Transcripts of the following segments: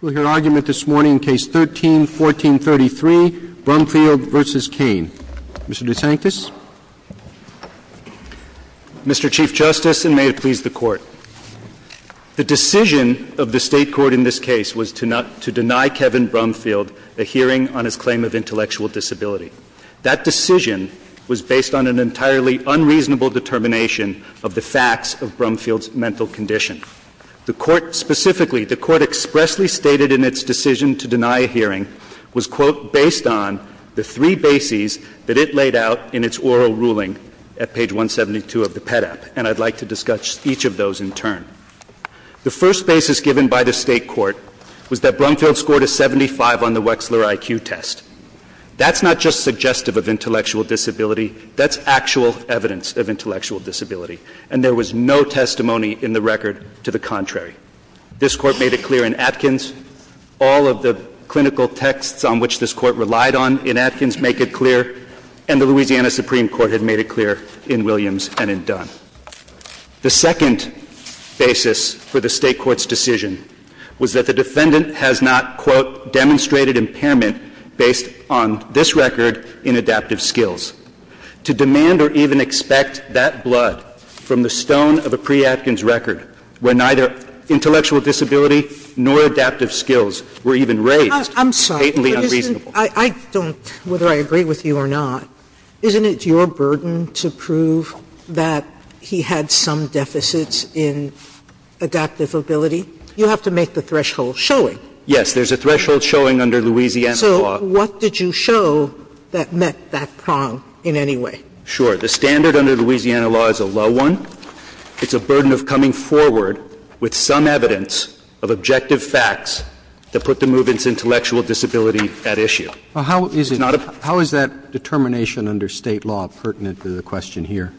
We'll hear argument this morning in Case 13-1433, Brumfield v. Cain. Mr. DeSantis. Mr. Chief Justice, and may it please the Court. The decision of the State court in this case was to deny Kevin Brumfield a hearing on his claim of intellectual disability. That decision was based on an entirely unreasonable determination of the facts of Brumfield's mental condition. The Court specifically, the Court expressly stated in its decision to deny a hearing was, quote, based on the three bases that it laid out in its oral ruling at page 172 of the PEDAP, and I'd like to discuss each of those in turn. The first basis given by the State court was that Brumfield scored a 75 on the Wechsler IQ test. That's not just suggestive of intellectual disability, that's actual evidence of intellectual disability. And there was no testimony in the record to the contrary. This Court made it clear in Atkins. All of the clinical texts on which this Court relied on in Atkins make it clear. And the Louisiana Supreme Court had made it clear in Williams and in Dunn. The second basis for the State court's decision was that the defendant has not, quote, demonstrated impairment based on this record in adaptive skills. To demand or even expect that blood from the stone of a pre-Atkins record, where neither intellectual disability nor adaptive skills were even raised, is patently unreasonable. I'm sorry, but isn't, I don't, whether I agree with you or not, isn't it your burden to prove that he had some deficits in adaptive ability? You have to make the threshold showing. Yes, there's a threshold showing under Louisiana law. But what did you show that met that prong in any way? Sure. The standard under Louisiana law is a low one. It's a burden of coming forward with some evidence of objective facts that put the movement's intellectual disability at issue. How is that determination under State law pertinent to the question here?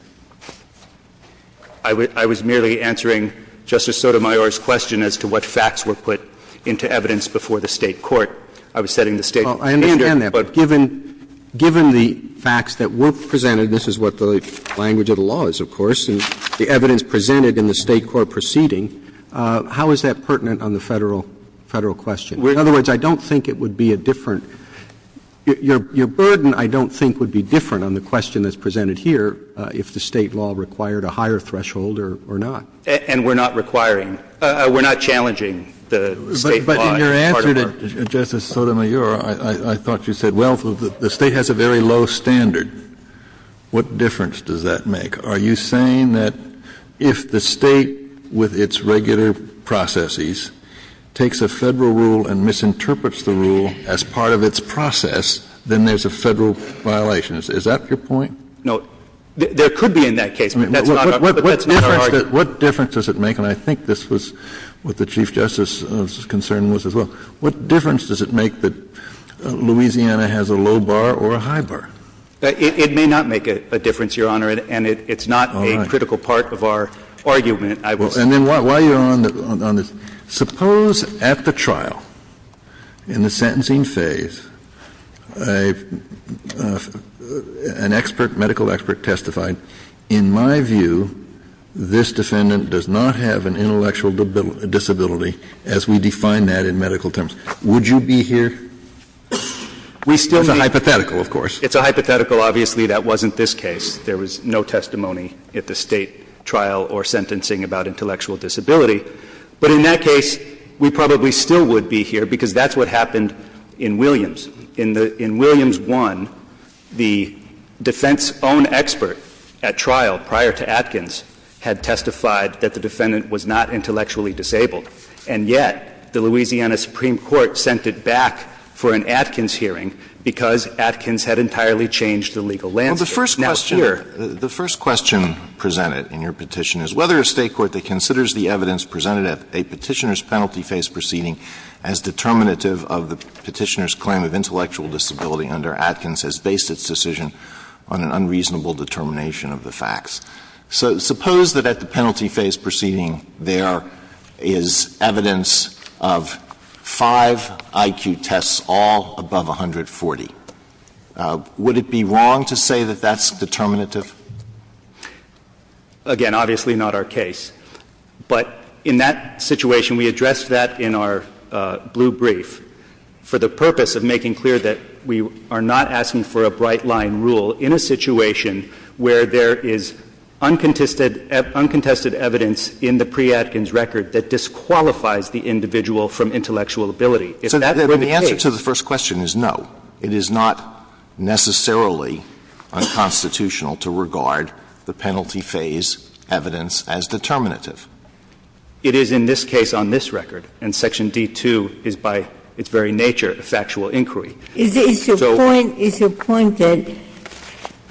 I was merely answering Justice Sotomayor's question as to what facts were put into evidence before the State court. I was setting the State standard, but But given, given the facts that were presented, this is what the language of the law is, of course, and the evidence presented in the State court proceeding, how is that pertinent on the Federal, Federal question? In other words, I don't think it would be a different, your burden, I don't think, would be different on the question that's presented here if the State law required a higher threshold or not. And we're not requiring, we're not challenging the State law as part of our Justice Sotomayor, I thought you said, well, the State has a very low standard. What difference does that make? Are you saying that if the State, with its regular processes, takes a Federal rule and misinterprets the rule as part of its process, then there's a Federal violation? Is that your point? No. There could be in that case, but that's not our argument. What difference does it make? And I think this was what the Chief Justice's concern was as well. What difference does it make that Louisiana has a low bar or a high bar? It may not make a difference, Your Honor, and it's not a critical part of our argument. I will say. And then while you're on this, suppose at the trial, in the sentencing phase, an expert, medical expert testified, in my view, this defendant does not have an intellectual disability, as we define that in medical terms. Would you be here? We still need. It's a hypothetical, of course. It's a hypothetical. Obviously, that wasn't this case. There was no testimony at the State trial or sentencing about intellectual disability. But in that case, we probably still would be here, because that's what happened in Williams. In the — in Williams 1, the defense's own expert at trial prior to Atkins had testified that the defendant was not intellectually disabled. And yet, the Louisiana Supreme Court sent it back for an Atkins hearing, because Atkins had entirely changed the legal landscape. Now, here the first question presented in your petition is whether a State court that considers the evidence presented at a Petitioner's penalty phase proceeding as determinative of the Petitioner's claim of intellectual disability under Atkins has based its decision on an unreasonable determination of the facts. So suppose that at the penalty phase proceeding there is evidence of five IQ tests all above 140. Would it be wrong to say that that's determinative? Again, obviously not our case. But in that situation, we addressed that in our blue brief for the purpose of making clear that we are not asking for a bright-line rule in a situation where there is uncontested evidence in the pre-Atkins record that disqualifies the individual from intellectual If that were the case So the answer to the first question is no. It is not necessarily unconstitutional to regard the penalty phase evidence as determinative. It is in this case on this record, and Section D-2 is by its very nature a factual inquiry. Is your point that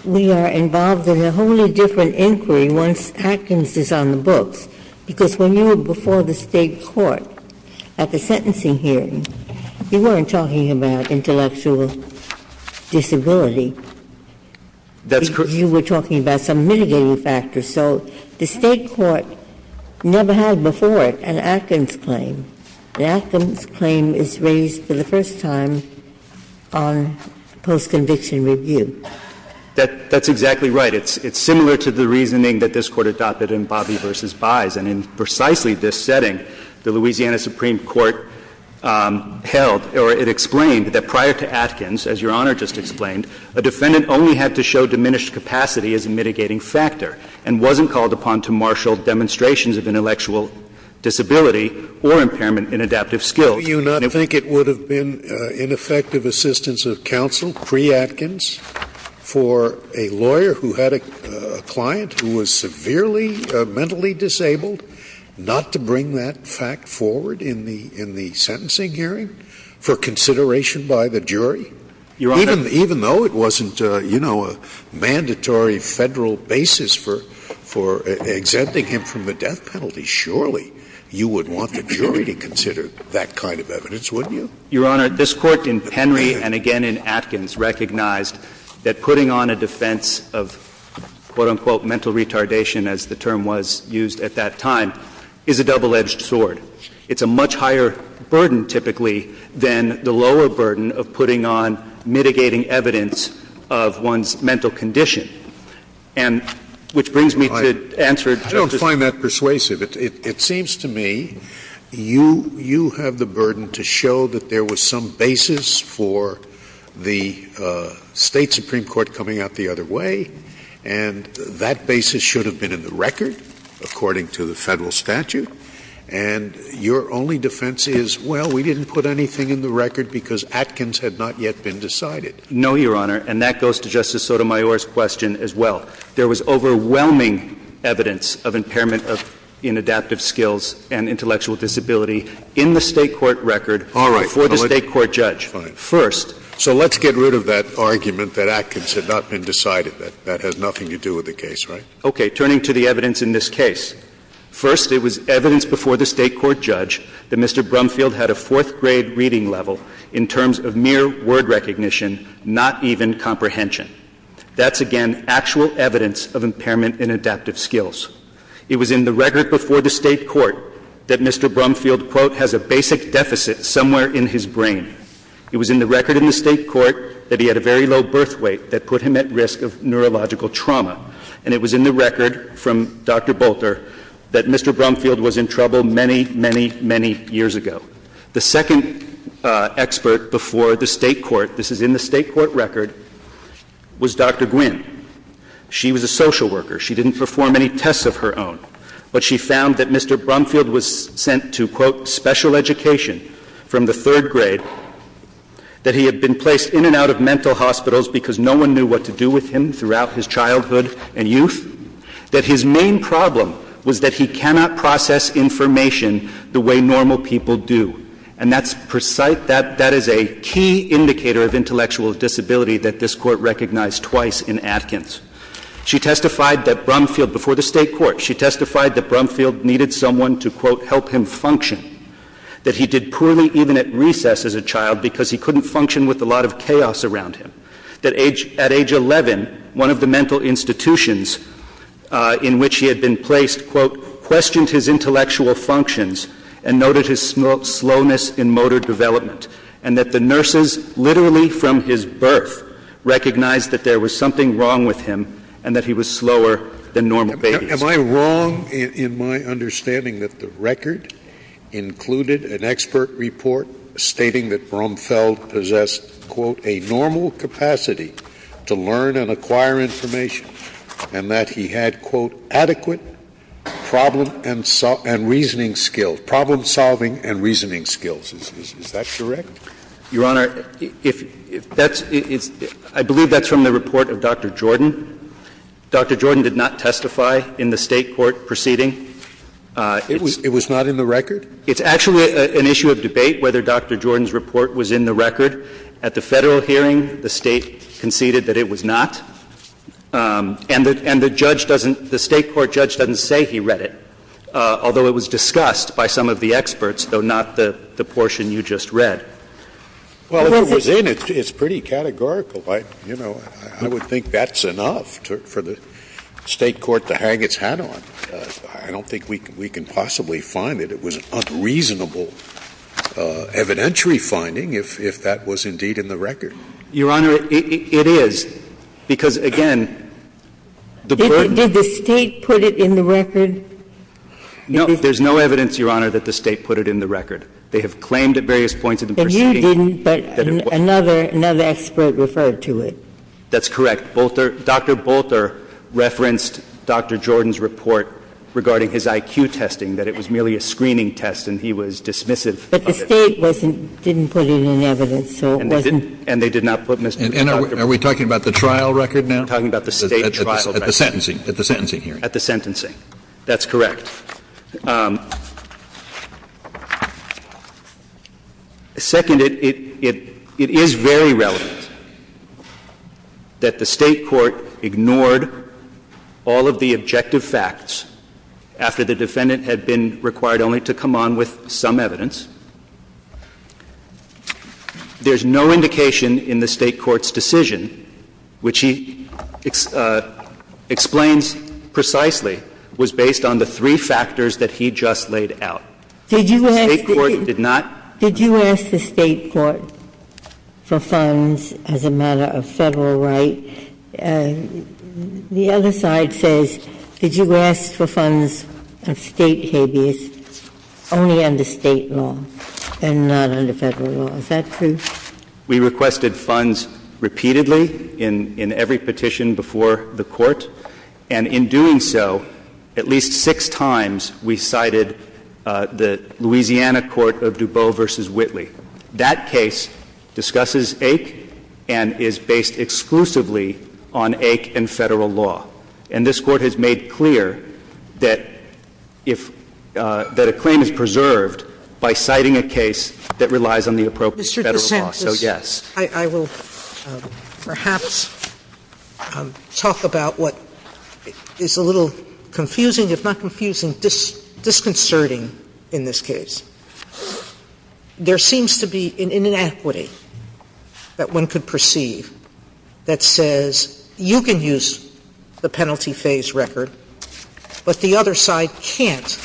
we are involved in a wholly different inquiry once Atkins is on the books? Because when you were before the State court at the sentencing hearing, you weren't talking about intellectual disability. That's correct. You were talking about some mitigating factors. So the State court never had before it an Atkins claim. The Atkins claim is raised for the first time on post-conviction review. That's exactly right. It's similar to the reasoning that this Court adopted in Bobby v. Byes. And in precisely this setting, the Louisiana Supreme Court held, or it explained, that prior to Atkins, as Your Honor just explained, a defendant only had to show diminished capacity as a mitigating factor and wasn't called upon to marshal demonstrations of intellectual disability or impairment in adaptive skills. Do you not think it would have been ineffective assistance of counsel pre-Atkins for a lawyer who had a client who was severely mentally disabled not to bring that fact forward in the sentencing hearing for consideration by the jury? Your Honor. Even though it wasn't, you know, a mandatory Federal basis for exempting him from a death penalty, surely you would want the jury to consider that kind of evidence, wouldn't you? Your Honor, this Court in Henry and again in Atkins recognized that putting on a defense of, quote, unquote, mental retardation, as the term was used at that time, is a double-edged sword. It's a much higher burden typically than the lower burden of putting on mitigating evidence of one's mental condition. And which brings me to the answer to Justice Scalia. I find that persuasive. It seems to me you have the burden to show that there was some basis for the State Supreme Court coming out the other way, and that basis should have been in the record, according to the Federal statute. And your only defense is, well, we didn't put anything in the record because Atkins had not yet been decided. No, Your Honor. And that goes to Justice Sotomayor's question as well. There was overwhelming evidence of impairment of inadaptive skills and intellectual disability in the State court record before the State court judge. All right. Fine. First — So let's get rid of that argument that Atkins had not been decided. That has nothing to do with the case, right? Okay. Turning to the evidence in this case, first, it was evidence before the State court judge that Mr. Brumfield had a fourth-grade reading level in terms of mere word recognition, not even comprehension. That's, again, actual evidence of impairment in adaptive skills. It was in the record before the State court that Mr. Brumfield, quote, has a basic deficit somewhere in his brain. It was in the record in the State court that he had a very low birth weight that put him at risk of neurological trauma. And it was in the record from Dr. Bolter that Mr. Brumfield was in trouble many, many, many years ago. The second expert before the State court — this is in the State court record — was Dr. Gwynne. She was a social worker. She didn't perform any tests of her own. But she found that Mr. Brumfield was sent to, quote, special education from the third grade, that he had been placed in and out of mental hospitals because no one knew what to do with him throughout his childhood and youth, that his main problem was that he cannot process information the way normal people do. And that's precise — that is a key indicator of intellectual disability that this Court recognized twice in Atkins. She testified that Brumfield — before the State court, she testified that Brumfield needed someone to, quote, help him function, that he did poorly even at recess as a child because he couldn't function with a lot of chaos around him, that at age 11, one of the intellectual functions and noted his slowness in motor development, and that the nurses literally from his birth recognized that there was something wrong with him and that he was slower than normal babies. Scalia. Am I wrong in my understanding that the record included an expert report stating that Brumfield possessed, quote, a normal capacity to learn and acquire information and that he had, quote, adequate problem and — and reasoning skills, problem-solving and reasoning skills? Is that correct? Your Honor, if — that's — I believe that's from the report of Dr. Jordan. Dr. Jordan did not testify in the State court proceeding. It was not in the record? It's actually an issue of debate whether Dr. Jordan's report was in the record. At the Federal hearing, the State conceded that it was not. And the — and the judge doesn't — the State court judge doesn't say he read it, although it was discussed by some of the experts, though not the portion you just read. Well, if it was in, it's pretty categorical. I — you know, I would think that's enough for the State court to hang its hat on. I don't think we can possibly find it. It was an unreasonable evidentiary finding if that was indeed in the record. Your Honor, it — it is. Because, again, the board — Did the State put it in the record? No. There's no evidence, Your Honor, that the State put it in the record. They have claimed at various points of the proceeding — And you didn't, but another — another expert referred to it. That's correct. Bolter — Dr. Bolter referenced Dr. Jordan's report regarding his IQ testing, that it was merely a screening test, and he was dismissive of it. But the State wasn't — didn't put it in evidence, so it wasn't — And they did not put Mr. Bolter — Are we talking about the trial record now? We're talking about the State trial record. At the sentencing. At the sentencing hearing. At the sentencing. That's correct. Second, it — it is very relevant that the State court ignored all of the objective facts after the defendant had been required only to come on with some evidence. There's no indication in the State court's decision, which he explains precisely, was based on the three factors that he just laid out. Did you ask the State court — The State court did not — Did you ask the State court for funds as a matter of Federal right? The other side says, did you ask for funds of State habeas only under State law? And not under Federal law. Is that true? We requested funds repeatedly in — in every petition before the Court. And in doing so, at least six times, we cited the Louisiana court of DuBose v. Whitley. That case discusses AIC and is based exclusively on AIC and Federal law. And this Court has made clear that if — that a claim is preserved by citing a case that relies on the appropriate Federal law. Mr. DeSantis, I will perhaps talk about what is a little confusing, if not confusing, disconcerting in this case. There seems to be an inequity that one could perceive that says you can use the penalty phase record, but the other side can't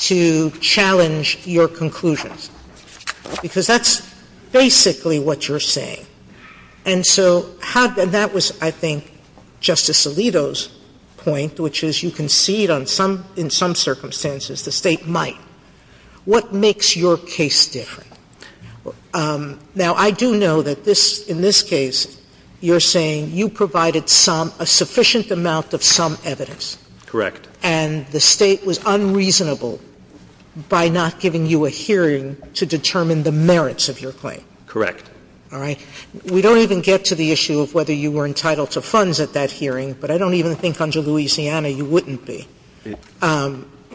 to challenge your conclusions. Because that's basically what you're saying. And so how — and that was, I think, Justice Alito's point, which is you can see it in some circumstances, the State might. What makes your case different? Now, I do know that this — in this case, you're saying you provided some — a sufficient amount of some evidence. Correct. And the State was unreasonable by not giving you a hearing to determine the merits of your claim. Correct. All right. We don't even get to the issue of whether you were entitled to funds at that hearing, but I don't even think under Louisiana you wouldn't be.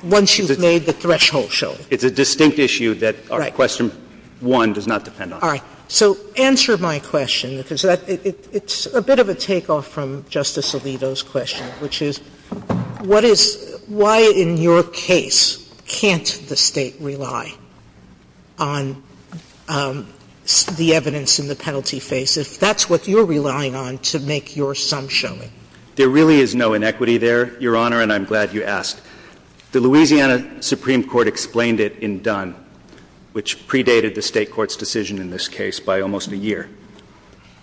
Once you've made the threshold showing. It's a distinct issue that question one does not depend on. All right. So answer my question, because that — it's a bit of a takeoff from Justice Alito's question, which is what is — why in your case can't the State rely on the evidence in the penalty phase if that's what you're relying on to make your sum showing? There really is no inequity there, Your Honor, and I'm glad you asked. The Louisiana Supreme Court explained it in Dunn, which predated the State court's decision in this case by almost a year.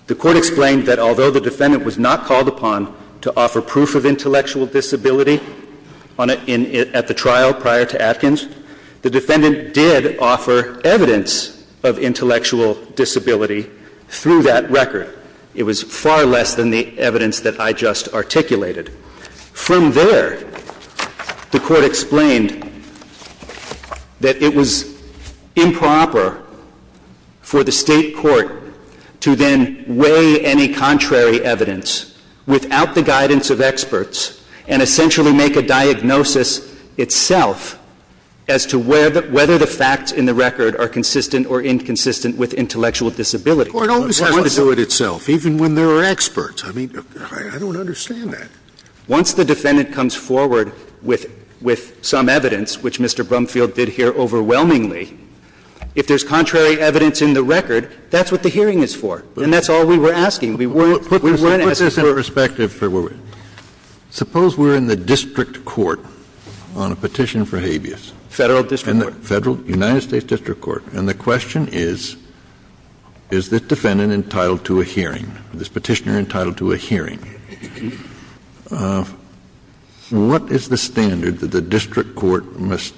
The court explained that although the defendant was not called upon to offer proof of intellectual disability on — at the trial prior to Atkins, the defendant did offer evidence of intellectual disability through that record. It was far less than the evidence that I just articulated. From there, the court explained that it was improper for the State court to then weigh any contrary evidence without the guidance of experts and essentially make a diagnosis itself as to whether the facts in the record are consistent or inconsistent with intellectual disability. The court always has to do it itself, even when there are experts. I mean, I don't understand that. Once the defendant comes forward with some evidence, which Mr. Brumfield did here overwhelmingly, if there's contrary evidence in the record, that's what the hearing is for. And that's all we were asking. We weren't asking for — Let me put this in perspective for a moment. Suppose we're in the district court on a petition for habeas. Federal district court. Federal — United States district court. And the question is, is this defendant entitled to a hearing? Is this petitioner entitled to a hearing? What is the standard that the district court must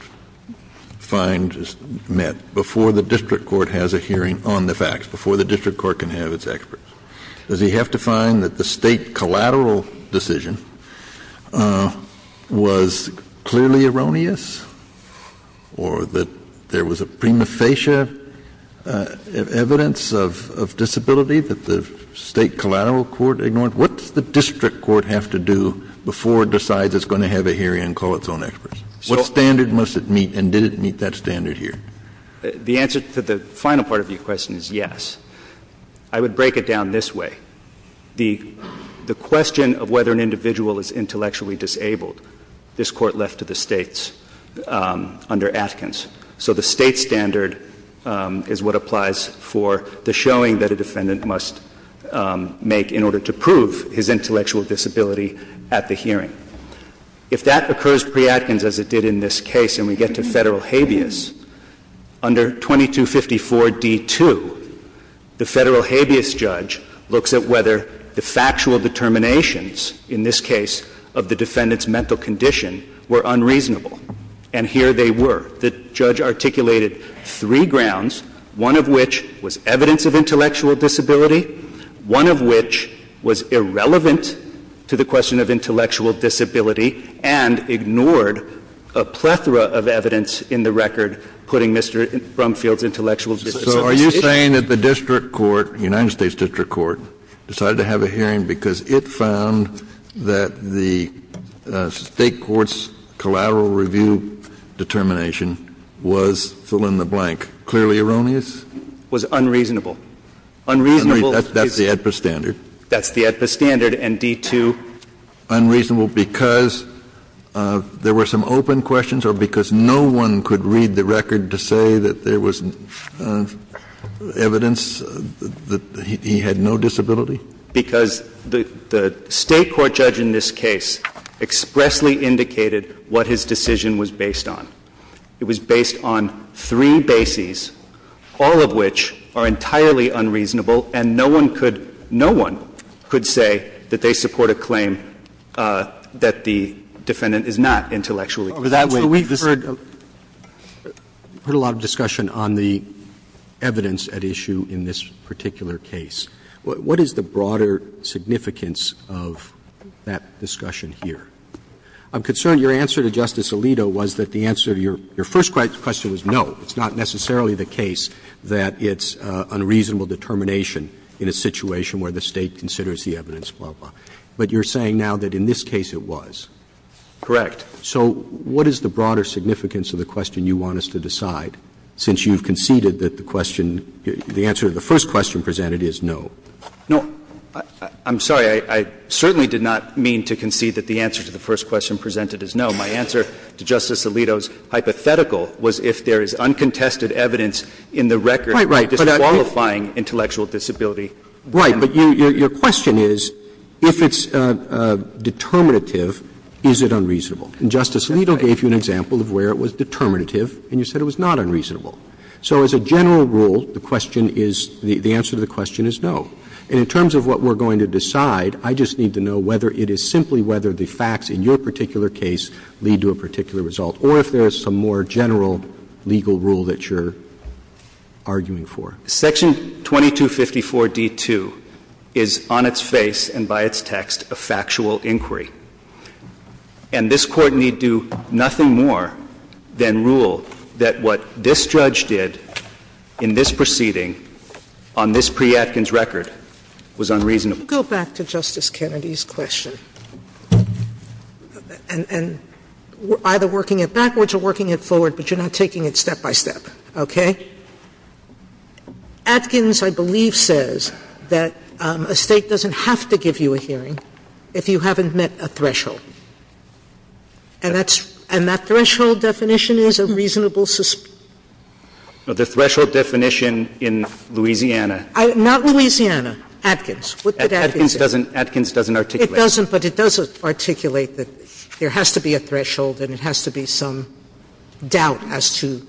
find met before the district court has a hearing on the facts, before the district court can have its experts? Does he have to find that the State collateral decision was clearly erroneous or that there was a prima facie evidence of disability that the State collateral court ignored? What does the district court have to do before it decides it's going to have a hearing and call its own experts? What standard must it meet? And did it meet that standard here? The answer to the final part of your question is yes. I would break it down this way. The question of whether an individual is intellectually disabled, this Court left to the States under Atkins. So the State standard is what applies for the showing that a defendant must make in order to prove his intellectual disability at the hearing. If that occurs pre-Atkins, as it did in this case, and we get to Federal habeas, under 2254d2, the Federal habeas judge looks at whether the factual determinations in this case of the defendant's mental condition were unreasonable. And here they were. The judge articulated three grounds, one of which was evidence of intellectual disability, one of which was irrelevant to the question of intellectual disability and ignored a plethora of evidence in the record putting Mr. Brumfield's intellectual disability at risk. Kennedy So are you saying that the district court, the United States district court, decided to have a hearing because it found that the State court's collateral review determination was fill-in-the-blank? Gershengorn It was unreasonable. Unreasonable. Kennedy That's the AEDPA standard. Gershengorn That's the AEDPA standard, and d2. Kennedy Unreasonable because there were some open questions or because no one could read the record to say that there was evidence that he had no disability? Gershengorn Because the State court judge in this case expressly indicated what his decision was based on. It was based on three bases, all of which are entirely unreasonable, and no one could no one could say that they support a claim that the defendant is not intellectually disabled. Roberts We've heard a lot of discussion on the evidence at issue in this particular case. What is the broader significance of that discussion here? I'm concerned your answer to Justice Alito was that the answer to your first question was no. It's not necessarily the case that it's unreasonable determination in a situation where the State considers the evidence, blah, blah. But you're saying now that in this case it was. Gershengorn Correct. Roberts So what is the broader significance of the question you want us to decide, since you've conceded that the question, the answer to the first question presented is no? Gershengorn No. I'm sorry. I certainly did not mean to concede that the answer to the first question presented is no. My answer to Justice Alito's hypothetical was if there is uncontested evidence in the record disqualifying intellectual disability. Roberts Right. But your question is, if it's determinative, is it unreasonable? And Justice Alito gave you an example of where it was determinative, and you said it was not unreasonable. So as a general rule, the question is, the answer to the question is no. And in terms of what we're going to decide, I just need to know whether it is simply whether the facts in your particular case lead to a particular result, or if there is some more general legal rule that you're arguing for. Gershengorn Section 2254d-2 is on its face and by its text a factual inquiry. And this Court need do nothing more than rule that what this judge did in this proceeding on this pre-Atkins record was unreasonable. Sotomayor Go back to Justice Kennedy's question. And we're either working it backwards or working it forward, but you're not taking it step by step. Okay? Atkins, I believe, says that a State doesn't have to give you a hearing if you haven't met a threshold. And that's – and that threshold definition is a reasonable suspicion? Gershengorn No, the threshold definition in Louisiana. Sotomayor Not Louisiana. What did Atkins say? Gershengorn Atkins doesn't articulate. Sotomayor It doesn't, but it does articulate that there has to be a threshold and it has to be some doubt as to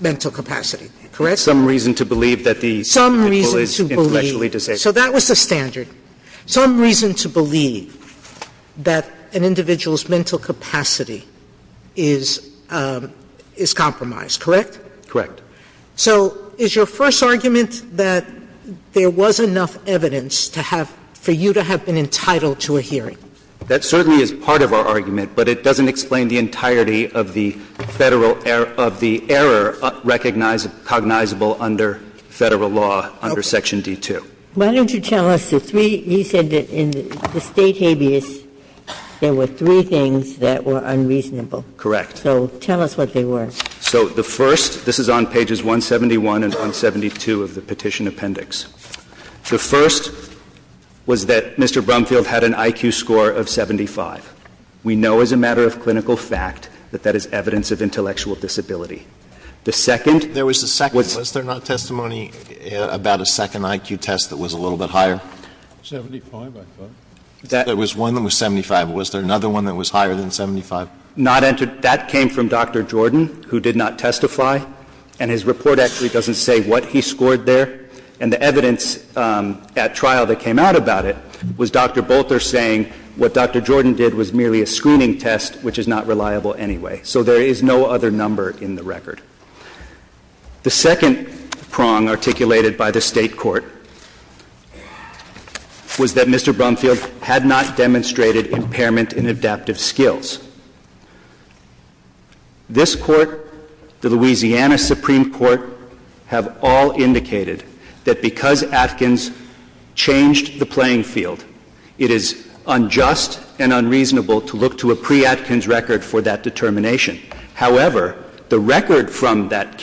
mental capacity. Gershengorn Some reason to believe that the individual is intellectually disabled. Sotomayor Some reason to believe – so that was the standard. Some reason to believe that an individual's mental capacity is compromised. Correct? Gershengorn Correct. Sotomayor So is your first argument that there was enough evidence to have – for you to have been entitled to a hearing? Gershengorn That certainly is part of our argument, but it doesn't explain the entirety of the Federal – of the error recognized – cognizable under Federal law under Section D2. Ginsburg Why don't you tell us the three – you said that in the State habeas, there were three things that were unreasonable. Gershengorn Correct. Ginsburg So tell us what they were. Gershengorn So the first – this is on pages 171 and 172 of the Petition Appendix. The first was that Mr. Brumfield had an IQ score of 75. We know as a matter of clinical fact that that is evidence of intellectual disability. The second was – Scalia There was a second. Was there not testimony about a second IQ test that was a little bit higher? That was one that was 75. Was there another one that was higher than 75? Gershengorn Not entered – that came from Dr. Jordan, who did not testify. And his report actually doesn't say what he scored there. And the evidence at trial that came out about it was Dr. Bolter saying what Dr. Jordan did was merely a screening test, which is not reliable anyway. So there is no other number in the record. The second prong articulated by the State court was that Mr. Brumfield had not demonstrated impairment in adaptive skills. This Court, the Louisiana Supreme Court, have all indicated that because Atkins changed the playing field, it is unjust and unreasonable to look to a pre-Atkins record for that determination. However, the record from that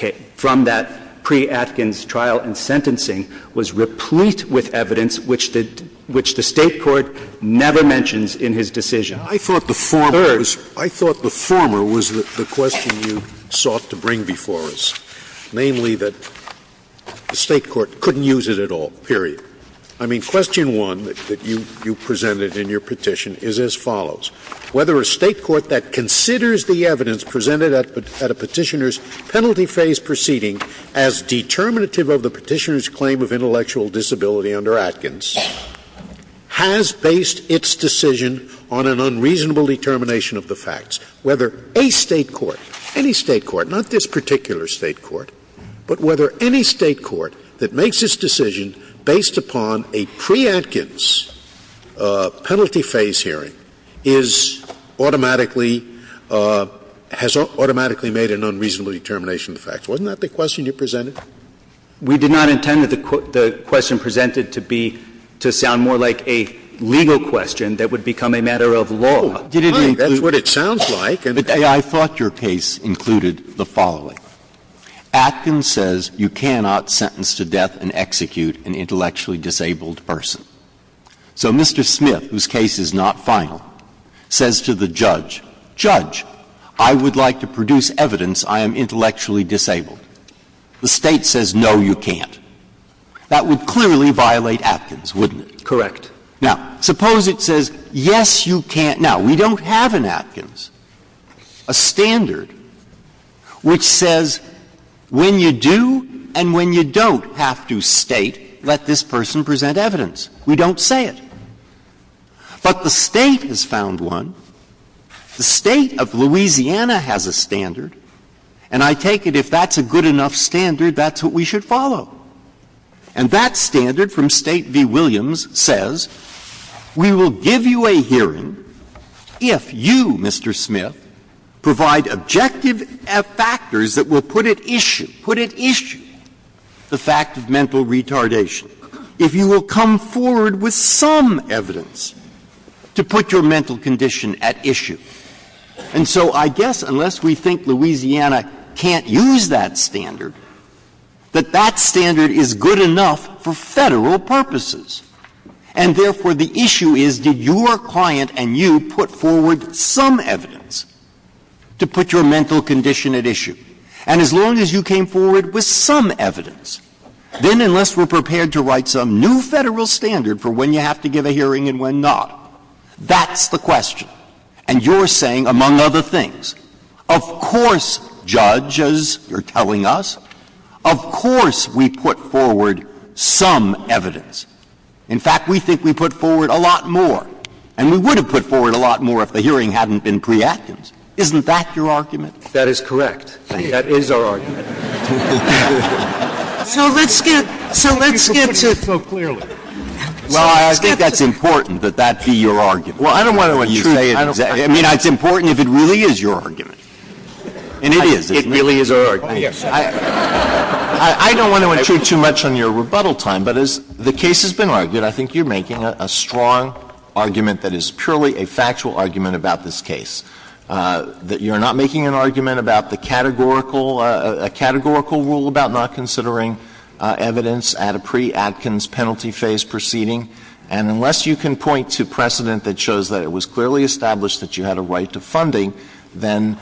pre-Atkins trial and sentencing was replete with evidence which the State court never mentions in his decision. I thought the former was the question you sought to bring before us, namely that the State court couldn't use it at all, period. I mean, question one that you presented in your petition is as follows. Whether a State court that considers the evidence presented at a Petitioner's penalty phase proceeding as determinative of the Petitioner's claim of intellectual disability under Atkins has based its decision on an unreasonable determination of the facts. Whether a State court, any State court, not this particular State court, but whether any State court that makes its decision based upon a pre-Atkins penalty phase hearing is automatically, has automatically made an unreasonable determination of the facts. Wasn't that the question you presented? We did not intend that the question presented to be, to sound more like a legal question that would become a matter of law. Breyer, that's what it sounds like. I thought your case included the following. Atkins says you cannot sentence to death and execute an intellectually disabled person. So Mr. Smith, whose case is not final, says to the judge, Judge, I would like to produce evidence I am intellectually disabled. The State says, no, you can't. That would clearly violate Atkins, wouldn't it? Correct. Now, suppose it says, yes, you can't. Now, we don't have in Atkins a standard which says when you do and when you don't have to State, let this person present evidence. We don't say it. But the State has found one. The State of Louisiana has a standard. And I take it if that's a good enough standard, that's what we should follow. And that standard from State v. Williams says, we will give you a hearing if you, Mr. Smith, provide objective factors that will put at issue, put at issue, the fact of mental retardation, if you will come forward with some evidence to put your mental condition at issue. And so I guess unless we think Louisiana can't use that standard, that that standard is good enough for Federal purposes. And therefore, the issue is, did your client and you put forward some evidence to put your mental condition at issue? And as long as you came forward with some evidence, then unless we're prepared to write some new Federal standard for when you have to give a hearing and when not, that's the question. And you're saying, among other things, of course, Judge, as you're telling us, of course we put forward some evidence. In fact, we think we put forward a lot more, and we would have put forward a lot more if the hearing hadn't been preempted. Isn't that your argument? That is correct. That is our argument. So let's get to the point. Well, I think that's important, that that be your argument. Well, I don't want to intrude. I mean, it's important if it really is your argument. And it is. It really is our argument. I don't want to intrude too much on your rebuttal time, but as the case has been argued, I think you're making a strong argument that is purely a factual argument about this case, that you're not making an argument about the categorical rule about not considering evidence at a pre-Atkins penalty phase proceeding. And unless you can point to precedent that shows that it was clearly established that you had a right to funding, then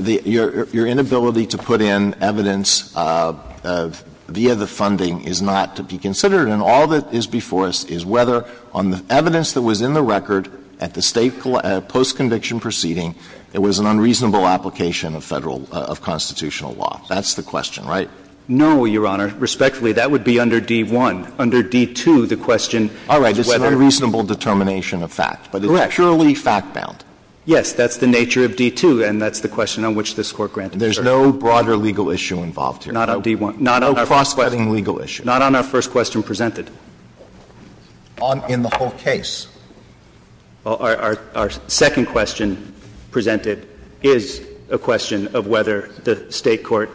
your inability to put in evidence via the funding is not to be considered. And all that is before us is whether on the evidence that was in the record at the State post-conviction proceeding, it was an unreasonable application of Federal of constitutional law. That's the question, right? No, Your Honor. Respectfully, that would be under D-1. Under D-2, the question is whether All right, this is an unreasonable determination of fact, but it's purely fact-bound. Yes, that's the nature of D-2, and that's the question on which this Court granted certainty. There's no broader legal issue involved here? Not on D-1. Not on our first question. No cross-cutting legal issue. Not on our first question presented. On in the whole case. Our second question presented is a question of whether the State court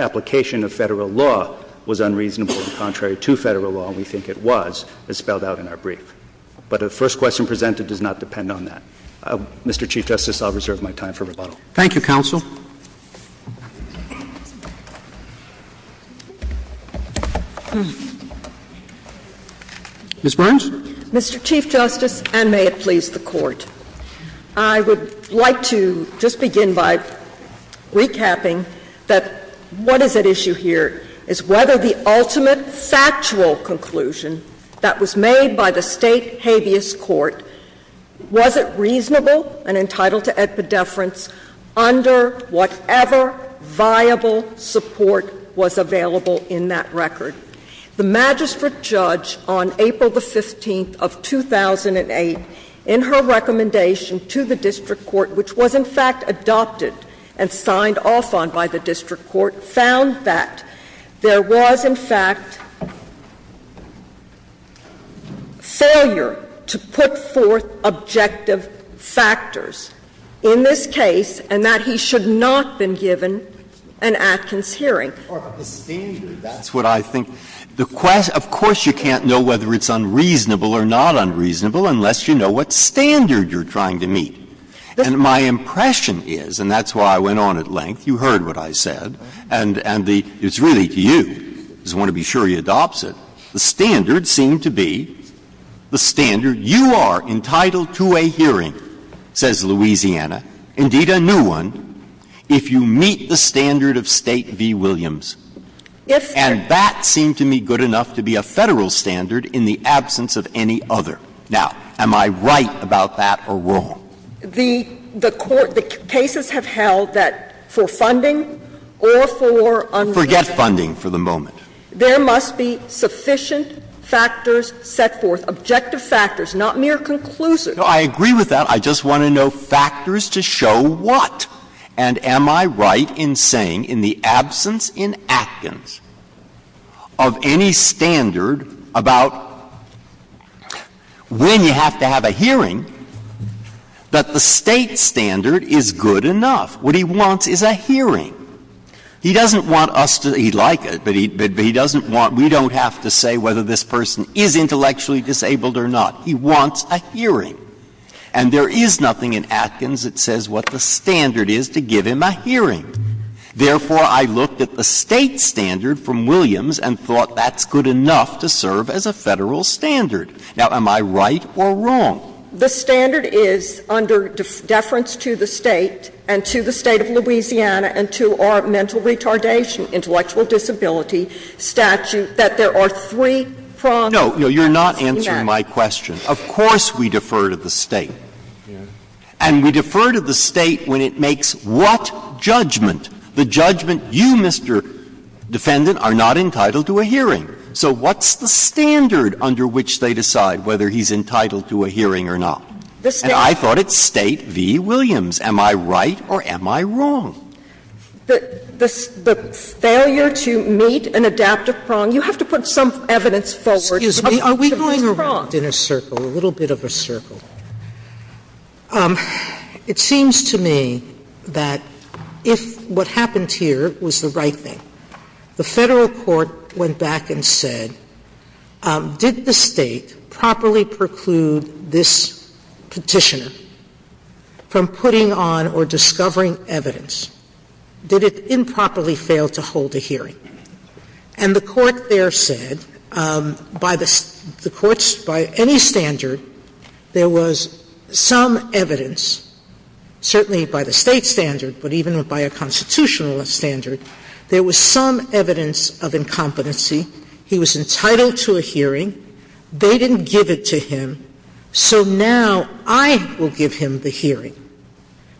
application of Federal law was unreasonable and contrary to Federal law, and we think it was, as spelled out in our brief. But the first question presented does not depend on that. Mr. Chief Justice, I'll reserve my time for rebuttal. Thank you, counsel. Ms. Burns? Mr. Chief Justice, and may it please the Court, I would like to just begin by recapping that what is at issue here is whether the ultimate factual conclusion that was made by the State habeas court, was it reasonable and entitled to epidefference under whatever viable support was available in that record. The magistrate judge on April the 15th of 2008, in her recommendation to the district court, which was, in fact, adopted and signed off on by the district court, found that there was, in fact, failure to put forth objective factors in this case and that he should not have been given an Atkins hearing. Of course, you can't know whether it's unreasonable or not unreasonable unless you know what standard you're trying to meet. And my impression is, and that's why I went on at length, you heard what I said, and it's really to you, I just want to be sure he adopts it, the standard seemed to be the standard you are entitled to a hearing, says Louisiana, indeed a new one, if you meet the standard of State v. Williams. And that seemed to me good enough to be a Federal standard in the absence of any other. Now, am I right about that or wrong? The Court, the cases have held that for funding or for unreasonable Casers. Forget funding for the moment. There must be sufficient factors set forth, objective factors, not mere conclusive. No, I agree with that. I just want to know factors to show what. And am I right in saying in the absence in Atkins of any standard about when you have to have a hearing, that the State standard is good enough? What he wants is a hearing. He doesn't want us to, he'd like it, but he doesn't want, we don't have to say whether this person is intellectually disabled or not. He wants a hearing. And there is nothing in Atkins that says what the standard is to give him a hearing. Therefore, I looked at the State standard from Williams and thought that's good enough to serve as a Federal standard. Now, am I right or wrong? The standard is under deference to the State and to the State of Louisiana and to our mental retardation, intellectual disability statute, that there are three prongs. No, no, you're not answering my question. Of course we defer to the State. And we defer to the State when it makes what judgment? The judgment you, Mr. Defendant, are not entitled to a hearing. So what's the standard under which they decide whether he's entitled to a hearing or not? And I thought it's State v. Williams. Am I right or am I wrong? The failure to meet an adaptive prong, you have to put some evidence forward. Excuse me. Are we going around in a circle, a little bit of a circle? It seems to me that if what happened here was the right thing, the Federal court went back and said, did the State properly preclude this Petitioner from putting on or discovering evidence? Did it improperly fail to hold a hearing? And the Court there said, by the Court's — by any standard, there was some evidence, certainly by the State standard, but even by a constitutional standard, there was some evidence of incompetency, he was entitled to a hearing, they didn't give it to him, so now I will give him the hearing,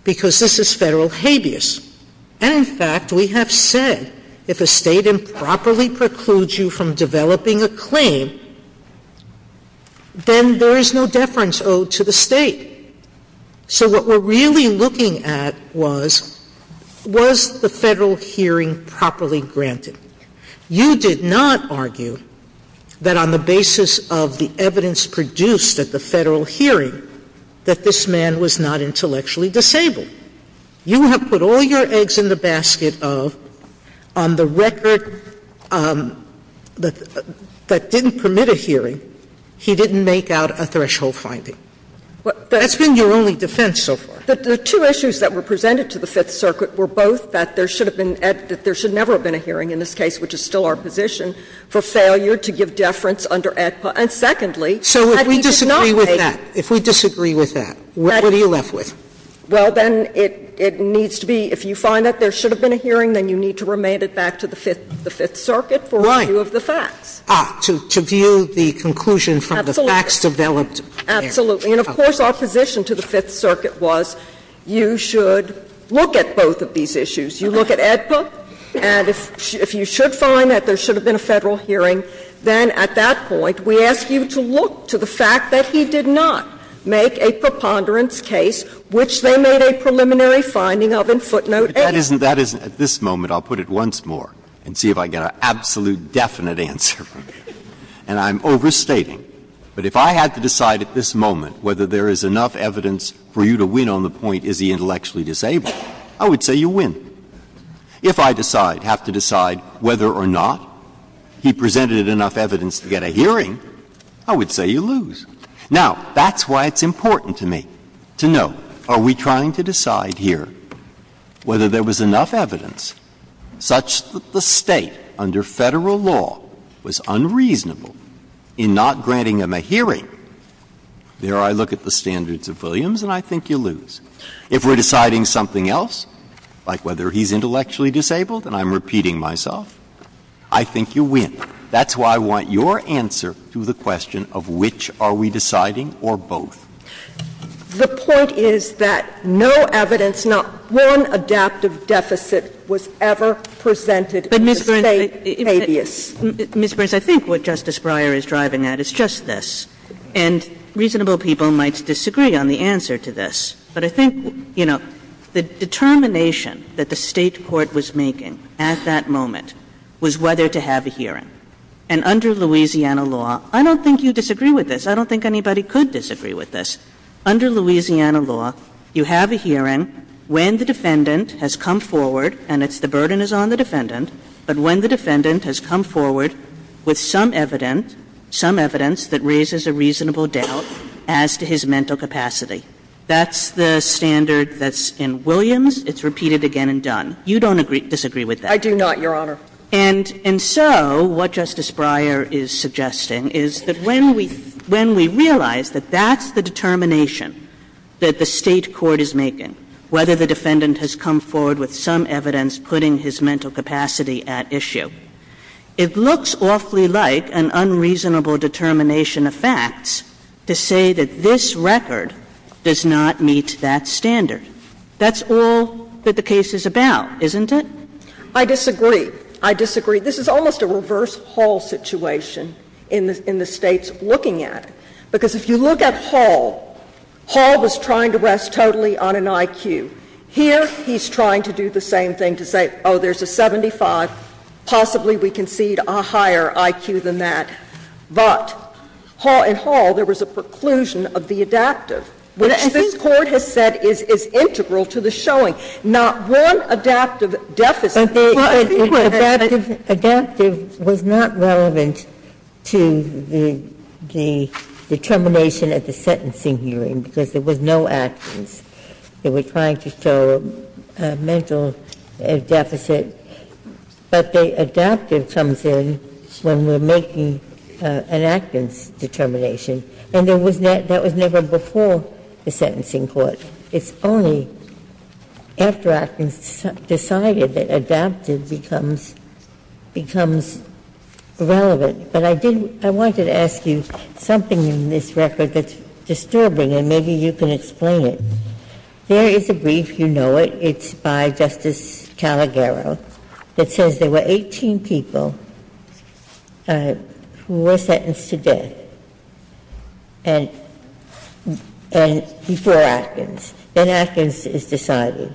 because this is Federal habeas. And, in fact, we have said if a State improperly precludes you from developing a claim, then there is no deference owed to the State. So what we're really looking at was, was the Federal hearing properly granted? You did not argue that on the basis of the evidence produced at the Federal hearing that this man was not intellectually disabled. You have put all your eggs in the basket of on the record that didn't permit a hearing, he didn't make out a threshold finding. That's been your only defense so far. The two issues that were presented to the Fifth Circuit were both that there should have been — that there should never have been a hearing in this case, which is still our position, for failure to give deference under AEDPA, and secondly, that he did not make— Sotomayor, if we disagree with that, if we disagree with that, what are you left with? Well, then it needs to be, if you find that there should have been a hearing, then you need to remand it back to the Fifth Circuit for review of the facts. Right. Ah, to view the conclusion from the facts developed there. Absolutely. And of course, our position to the Fifth Circuit was you should look at both of these issues. You look at AEDPA, and if you should find that there should have been a Federal hearing, then at that point we ask you to look to the fact that he did not make a preponderance case which they made a preliminary finding of in footnote 8. But that isn't — that isn't — at this moment, I'll put it once more and see if I get an absolute definite answer from you. And I'm overstating, but if I had to decide at this moment whether there is enough evidence for you to win on the point, is he intellectually disabled, I would say you win. If I decide, have to decide whether or not he presented enough evidence to get a hearing, I would say you lose. Now, that's why it's important to me to know, are we trying to decide here whether there was enough evidence such that the State, under Federal law, was unreasonable in not granting him a hearing? There I look at the standards of Williams, and I think you lose. If we're deciding something else, like whether he's intellectually disabled, and I'm repeating myself, I think you win. That's why I want your answer to the question of which are we deciding or both. The point is that no evidence, not one adaptive deficit was ever presented in the State habeas. Kagan. Kagan. Ms. Burns, I think what Justice Breyer is driving at is just this, and reasonable people might disagree on the answer to this, but I think, you know, the determination that the State court was making at that moment was whether to have a hearing. And under Louisiana law, I don't think you disagree with this. I don't think anybody could disagree with this. Under Louisiana law, you have a hearing when the defendant has come forward, and it's the burden is on the defendant, but when the defendant has come forward with some evidence, some evidence that raises a reasonable doubt as to his mental capacity. That's the standard that's in Williams. It's repeated again and done. You don't disagree with that. I do not, Your Honor. And so what Justice Breyer is suggesting is that when we realize that that's the determination that the State court is making, whether the defendant has come forward with some evidence putting his mental capacity at issue, it looks awfully like an unreasonable determination of facts to say that this record does not meet that standard. That's all that the case is about, isn't it? I disagree. I disagree. This is almost a reverse Hall situation in the States looking at it. Because if you look at Hall, Hall was trying to rest totally on an IQ. Here, he's trying to do the same thing to say, oh, there's a 75, possibly we concede a higher IQ than that. But in Hall, there was a preclusion of the adaptive, which this Court has said is integral to the showing. Now, one adaptive deficit, well, I think we're at a bit of a gap here. Adaptive was not relevant to the determination at the sentencing hearing, because there was no actance. They were trying to show a mental deficit, but the adaptive comes in when we're making an actance determination, and that was never before the sentencing court. It's only after actance decided that adaptive becomes relevant. But I did — I wanted to ask you something in this record that's disturbing, and maybe you can explain it. There is a brief, you know it, it's by Justice Calagaro, that says there were 18 people who were sentenced to death, and before actance. Then actance is decided.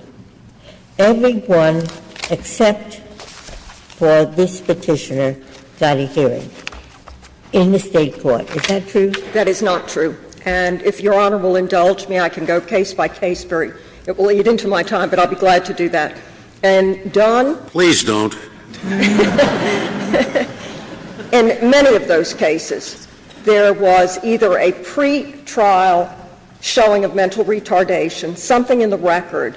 Everyone except for this Petitioner got a hearing in the State court. Is that true? That is not true. And if Your Honor will indulge me, I can go case by case very — it will lead into my time, but I'll be glad to do that. And Don? Please don't. In many of those cases, there was either a pretrial showing of mental retardation, something in the record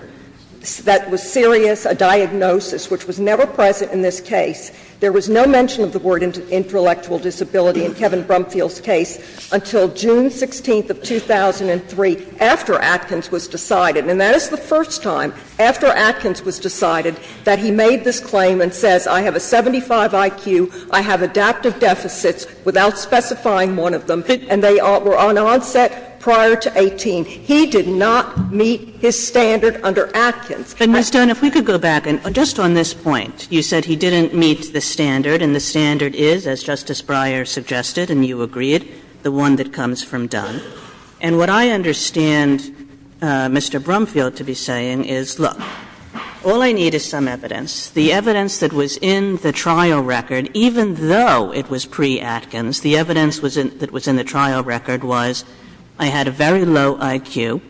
that was serious, a diagnosis which was never present in this case. There was no mention of the word intellectual disability in Kevin Brumfield's case until June 16th of 2003, after actance was decided. And that is the first time after actance was decided that he made this claim and says I have a 75 IQ, I have adaptive deficits without specifying one of them, and they were on onset prior to 18. He did not meet his standard under actance. And Ms. Dunn, if we could go back. And just on this point, you said he didn't meet the standard, and the standard is, as Justice Breyer suggested and you agreed, the one that comes from Dunn. And what I understand Mr. Brumfield to be saying is, look, all I need is some evidence. The evidence that was in the trial record, even though it was pre-actance, the evidence that was in the trial record was I had a very low IQ,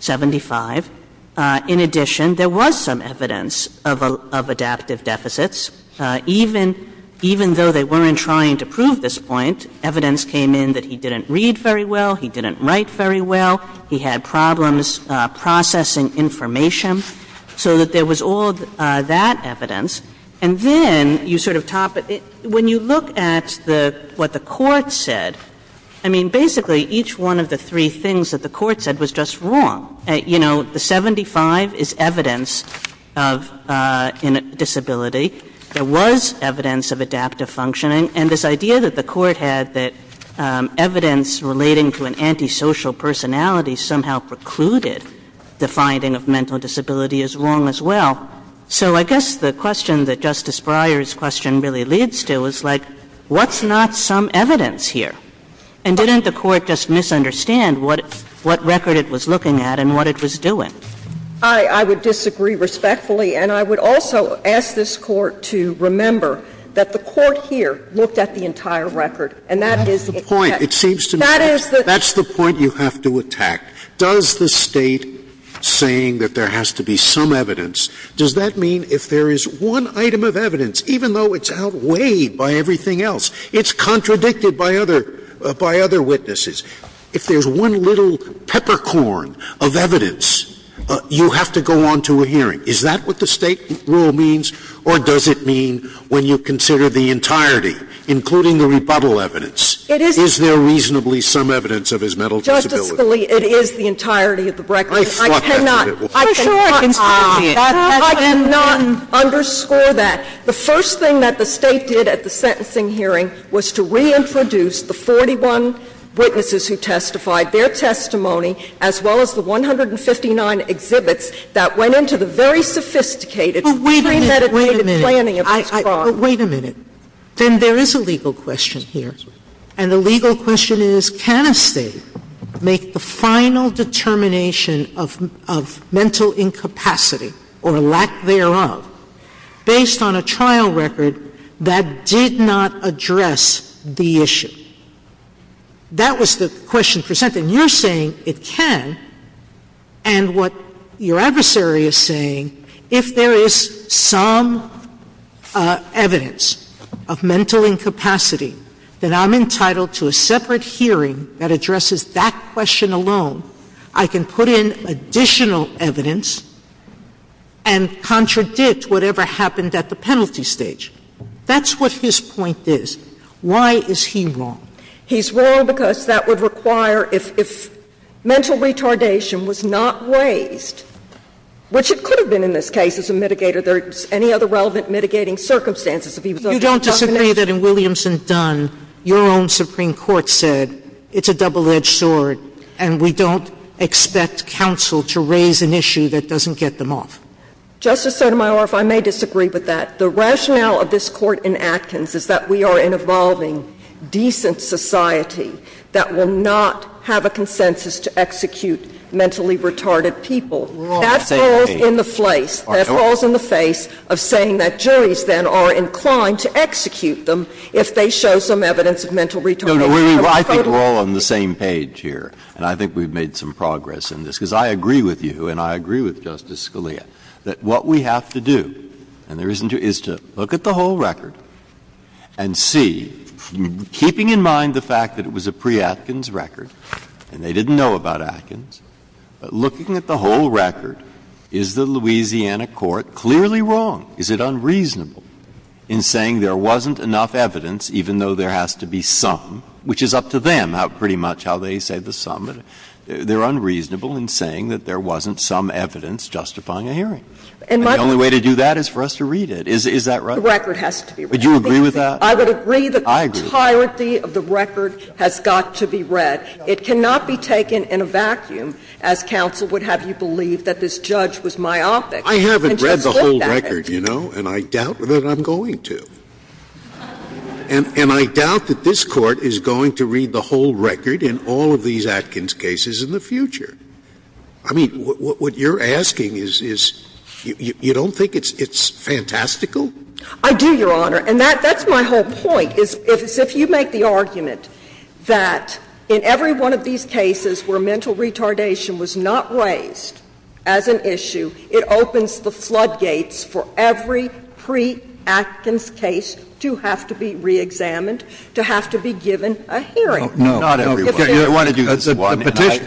75. In addition, there was some evidence of adaptive deficits. Even though they weren't trying to prove this point, evidence came in that he didn't read very well, he didn't write very well, he had problems processing information. So that there was all that evidence. And then you sort of top it. When you look at the what the Court said, I mean, basically each one of the three things that the Court said was just wrong. You know, the 75 is evidence of disability. There was evidence of adaptive functioning. And this idea that the Court had that evidence relating to an antisocial personality somehow precluded the finding of mental disability is wrong as well. So I guess the question that Justice Breyer's question really leads to is, like, what's not some evidence here? And didn't the Court just misunderstand what record it was looking at and what it was doing? I would disagree respectfully. And I would also ask this Court to remember that the Court here looked at the entire record, and that is the point. It seems to me that's the point you have to attack. Does the State saying that there has to be some evidence, does that mean if there is one item of evidence, even though it's outweighed by everything else, it's contradicted by other witnesses, if there's one little peppercorn of evidence, you have to go on to a hearing. Is that what the State rule means, or does it mean when you consider the entirety, including the rebuttal evidence, is there reasonably some evidence of his mental disability? Justice Scalia, it is the entirety of the record. I cannot underscore that. The first thing that the State did at the sentencing hearing was to reintroduce the 41 witnesses who testified, their testimony, as well as the 159 exhibits that went into the very sophisticated, premeditated planning of his crime. Sotomayor, wait a minute. Then there is a legal question here, and the legal question is, can a State make the final determination of mental incapacity, or lack thereof, based on a trial record that did not address the issue? That was the question presented, and you're saying it can. And what your adversary is saying, if there is some evidence of mental incapacity that I'm entitled to a separate hearing that addresses that question alone, I can put in additional evidence and contradict whatever happened at the penalty stage. That's what his point is. Why is he wrong? He's wrong because that would require, if mental retardation was not raised, which it could have been in this case as a mitigator, there's any other relevant mitigating circumstances if he was under the definition. Sotomayor, if I may disagree with that, the rationale of this Court in Atkins is that that doesn't get them off. It's the Court's process in society that will not have a consensus to execute mentally retarded people. That falls in the face of saying that juries then are inclined to execute them if they show some evidence of mental retardation. Breyer. I think we're all on the same page here, and I think we've made some progress in this. Because I agree with you and I agree with Justice Scalia, that what we have to do, and there isn't to do, is to look at the whole record and see, keeping in mind the fact that it was a pre-Atkins record, and they didn't know about Atkins, but looking at the whole record, is the Louisiana court clearly wrong? Is it unreasonable in saying there wasn't enough evidence, even though there has to be some, which is up to them pretty much how they say the sum, but they're unreasonable in saying that there wasn't some evidence justifying a hearing. And the only way to do that is for us to read it. Is that right? The record has to be read. Do you agree with that? I would agree that the entirety of the record has got to be read. It cannot be taken in a vacuum as counsel would have you believe that this judge was myopic. I haven't read the whole record, you know, and I doubt that I'm going to. And I doubt that this Court is going to read the whole record in all of these Atkins cases in the future. I mean, what you're asking is, you don't think it's fantastical? I do, Your Honor. And that's my whole point, is if you make the argument that in every one of these cases where mental retardation was not raised as an issue, it opens the floodgates for every pre-Atkins case to have to be reexamined, to have to be given a hearing. No. Not every one.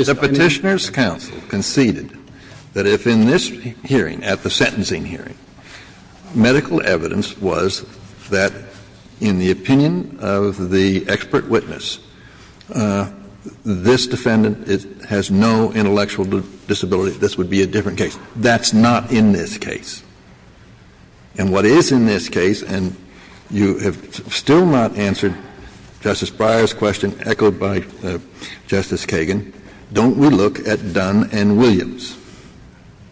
The Petitioner's counsel conceded that if in this hearing, at the sentencing hearing, medical evidence was that in the opinion of the expert witness, this defendant has no intellectual disability, this would be a different case. That's not in this case. And what is in this case, and you have still not answered Justice Breyer's question echoed by Justice Kagan, don't we look at Dunn and Williams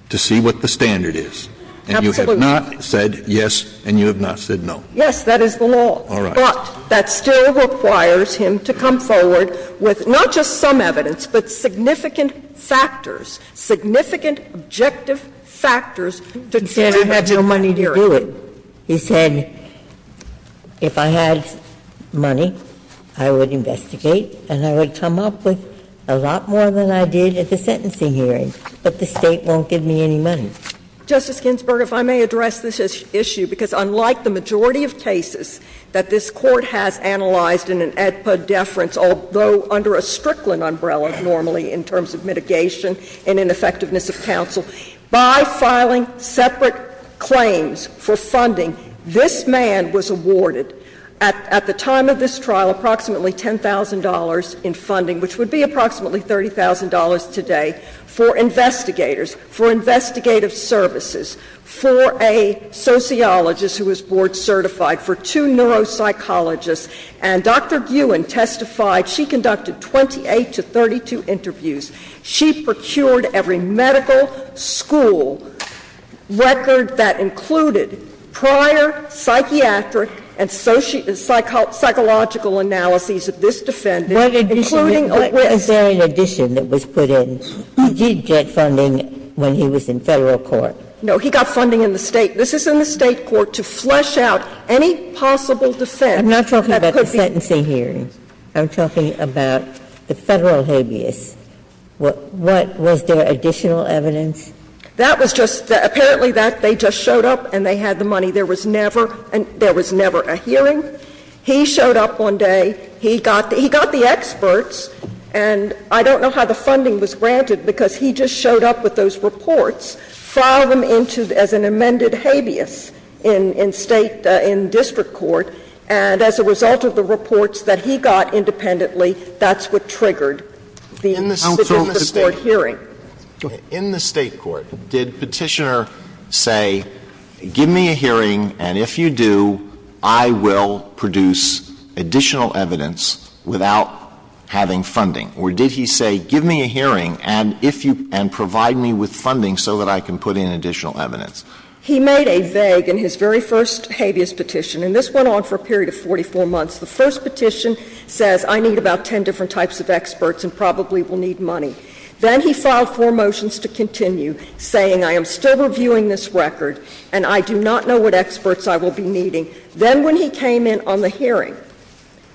to see what the standard is? Absolutely. And you have not said yes, and you have not said no. Yes, that is the law. All right. But that still requires him to come forward with not just some evidence, but significant factors, significant objective factors to determine whether to do it. He said, if I had money, I would investigate and I would come up with a lot more than I did at the sentencing hearing, but the State won't give me any money. Justice Ginsburg, if I may address this issue, because unlike the majority of cases that this Court has analyzed in an AEDPA deference, although under a Strickland umbrella normally in terms of mitigation and in effectiveness of counsel, by filing separate claims for funding, this man was awarded, at the time of this trial, approximately $10,000 in funding, which would be approximately $30,000 today for investigators, for investigative services, for a sociologist who was board certified, for two neuropsychologists, and Dr. Guin testified, she conducted 28 to 32 interviews. She procured every medical school record that included prior psychiatric and psychological analyses of this defendant, including a witness. Ginsburg's What addition? Is there an addition that was put in? He did get funding when he was in Federal court. No. He got funding in the State. This is in the State court to flesh out any possible defense that could be- I'm not talking about the sentencing hearing. I'm talking about the Federal habeas. What was their additional evidence? That was just the – apparently that they just showed up and they had the money. There was never a hearing. He showed up one day. He got the experts, and I don't know how the funding was granted because he just showed up with those reports, filed them into as an amended habeas in State, in district court, and as a result of the reports that he got independently, that's what triggered the- Sotomayor, in the State court, did Petitioner say, give me a hearing, and if you do, I will produce additional evidence without having funding, or did he say, give me a hearing, and if you – and provide me with funding so that I can put in additional evidence? He made a vague in his very first habeas petition, and this went on for a period of 44 months. The first petition says, I need about 10 different types of experts and probably will need money. Then he filed four motions to continue, saying, I am still reviewing this record and I do not know what experts I will be needing. Then when he came in on the hearing,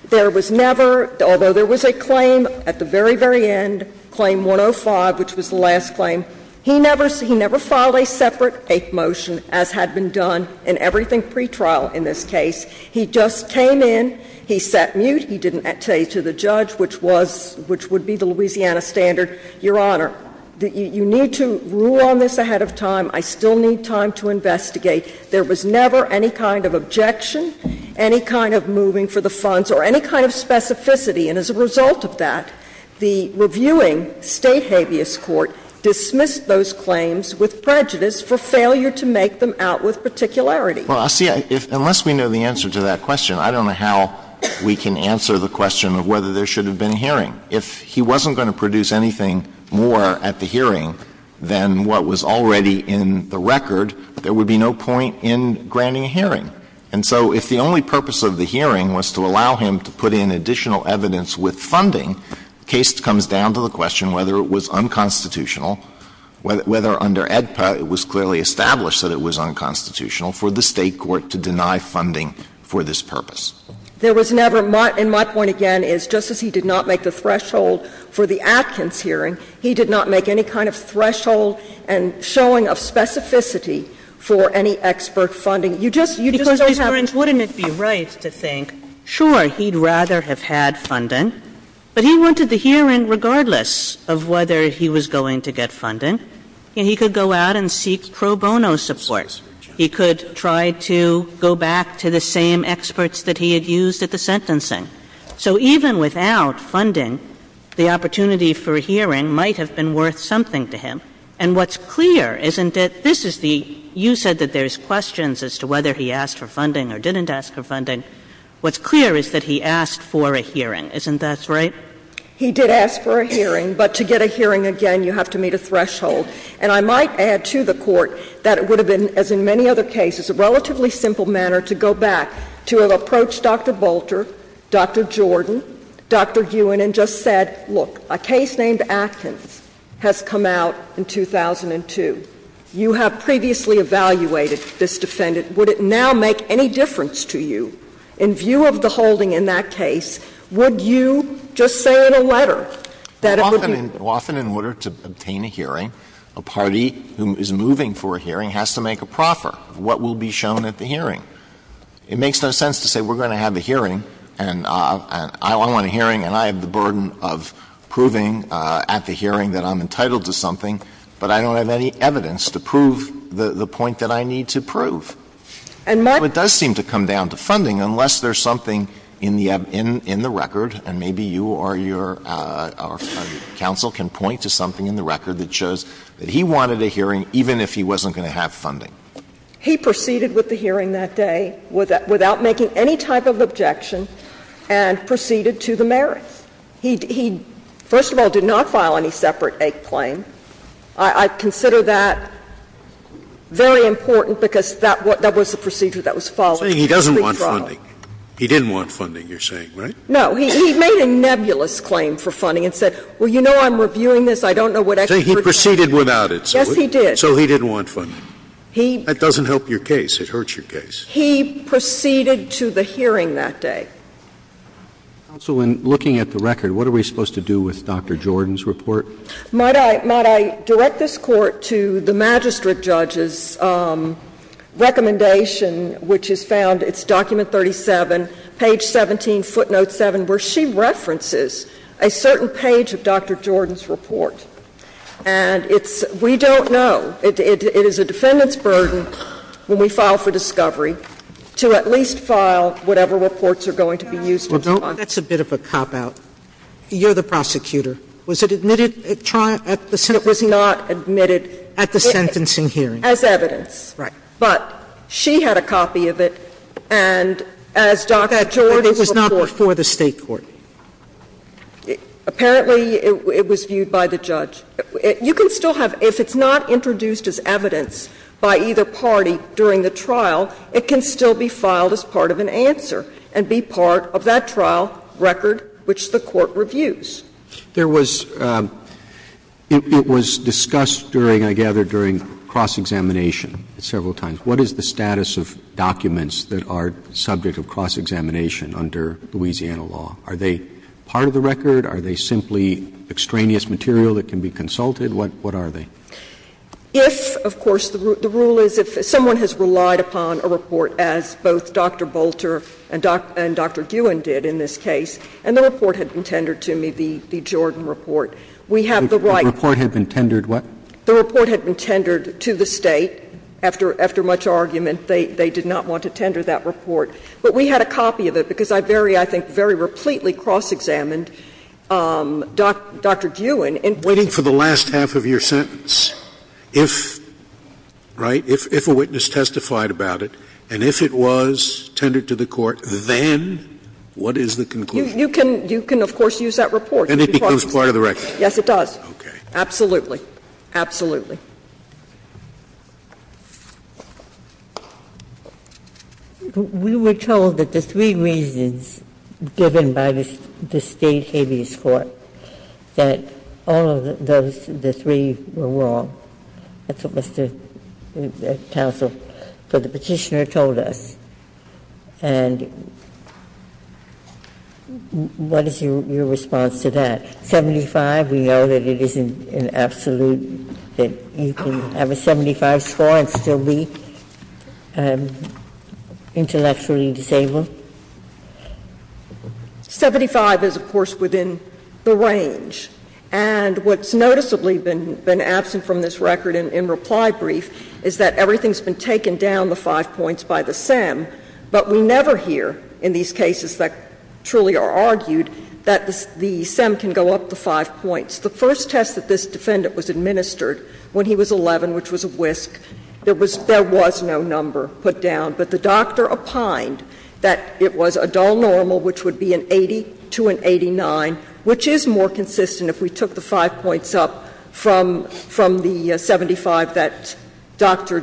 there was never – although there was a claim at the very, very end, Claim 105, which was the last claim, he never – he never filed a separate motion, as had been done in everything pretrial in this case. He just came in, he sat mute, he didn't say to the judge, which was – which would be the Louisiana standard, Your Honor, that you need to rule on this ahead of time, I still need time to investigate. There was never any kind of objection, any kind of moving for the funds, or any kind of specificity. And as a result of that, the reviewing State habeas court dismissed those claims with prejudice for failure to make them out with particularity. Alito, unless we know the answer to that question, I don't know how we can answer the question of whether there should have been a hearing. If he wasn't going to produce anything more at the hearing than what was already in the record, there would be no point in granting a hearing. And so if the only purpose of the hearing was to allow him to put in additional evidence with funding, the case comes down to the question whether it was unconstitutional, whether under AEDPA it was clearly established that it was unconstitutional for the State court to deny funding for this purpose. There was never – and my point again is, just as he did not make the threshold for the Atkins hearing, he did not make any kind of threshold and showing of specificity for any expert funding. You just – you just don't have the right to think, sure, he'd rather have had funding, but he wanted the hearing regardless of whether he was going to get funding. He could go out and seek pro bono support. He could try to go back to the same experts that he had used at the sentencing. So even without funding, the opportunity for a hearing might have been worth something to him. And what's clear isn't it – this is the – you said that there's questions as to whether he asked for funding or didn't ask for funding. What's clear is that he asked for a hearing. Isn't that right? He did ask for a hearing, but to get a hearing again, you have to meet a threshold. And I might add to the Court that it would have been, as in many other cases, a relatively simple manner to go back to have approached Dr. Bolter, Dr. Jordan, Dr. Ewan, and just said, look, a case named Atkins has come out in 2002. You have previously evaluated this defendant. Would it now make any difference to you in view of the holding in that case, would Often in order to obtain a hearing, a party who is moving for a hearing has to make a proffer of what will be shown at the hearing. It makes no sense to say we're going to have a hearing and I want a hearing and I have the burden of proving at the hearing that I'm entitled to something, but I don't have any evidence to prove the point that I need to prove. And my question is, it does seem to come down to funding, unless there's something in the record, and maybe you or your counsel can point to something in the record that shows that he wanted a hearing even if he wasn't going to have funding. He proceeded with the hearing that day without making any type of objection and proceeded to the merits. He, first of all, did not file any separate act claim. I consider that very important because that was the procedure that was followed. Scalia, you're saying he doesn't want funding. He didn't want funding, you're saying, right? No. He made a nebulous claim for funding and said, well, you know, I'm reviewing this, I don't know what extra. He proceeded without it. Yes, he did. So he didn't want funding. He. That doesn't help your case. It hurts your case. He proceeded to the hearing that day. Counsel, in looking at the record, what are we supposed to do with Dr. Jordan's report? Might I direct this Court to the magistrate judge's recommendation, which is found in document 37, page 17, footnote 7, where she references a certain page of Dr. Jordan's report. And it's, we don't know. It is a defendant's burden when we file for discovery to at least file whatever reports are going to be used in response. That's a bit of a cop-out. You're the prosecutor. Was it admitted at the sentencing hearing? It was not admitted at the sentencing hearing. As evidence. Right. But she had a copy of it, and as Dr. Jordan's report. It was not before the State court. Apparently, it was viewed by the judge. You can still have, if it's not introduced as evidence by either party during the trial, it can still be filed as part of an answer and be part of that trial record which the court reviews. There was, it was discussed during, I gather, during cross-examination several times, what is the status of documents that are subject of cross-examination under Louisiana law? Are they part of the record? Are they simply extraneous material that can be consulted? What are they? If, of course, the rule is if someone has relied upon a report as both Dr. Bolter and Dr. Guin did in this case, and the report had been tendered to me, the Jordan report, we have the right. The report had been tendered what? The report had been tendered to the State. After much argument, they did not want to tender that report. But we had a copy of it, because I very, I think, very repletely cross-examined Dr. Guin. Scalia. Waiting for the last half of your sentence, if, right, if a witness testified about it, and if it was tendered to the court, then what is the conclusion? You can, of course, use that report. And it becomes part of the record. Yes, it does. Okay. Absolutely. Absolutely. We were told that the three reasons given by the State habeas court, that all of those three were wrong, that's what Mr. Counsel for the Petitioner told us. And what is your response to that? 75, we know that it isn't an absolute, that you can have a 75 score and still be intellectually disabled? 75 is, of course, within the range. And what's noticeably been absent from this record in reply brief is that everything has been taken down the five points by the SEM, but we never hear in these cases that truly are argued that the SEM can go up the five points. The first test that this defendant was administered when he was 11, which was a WISC, there was no number put down. But the doctor opined that it was a dull normal, which would be an 80 to an 89, which is more consistent if we took the five points up from the 75 that Dr.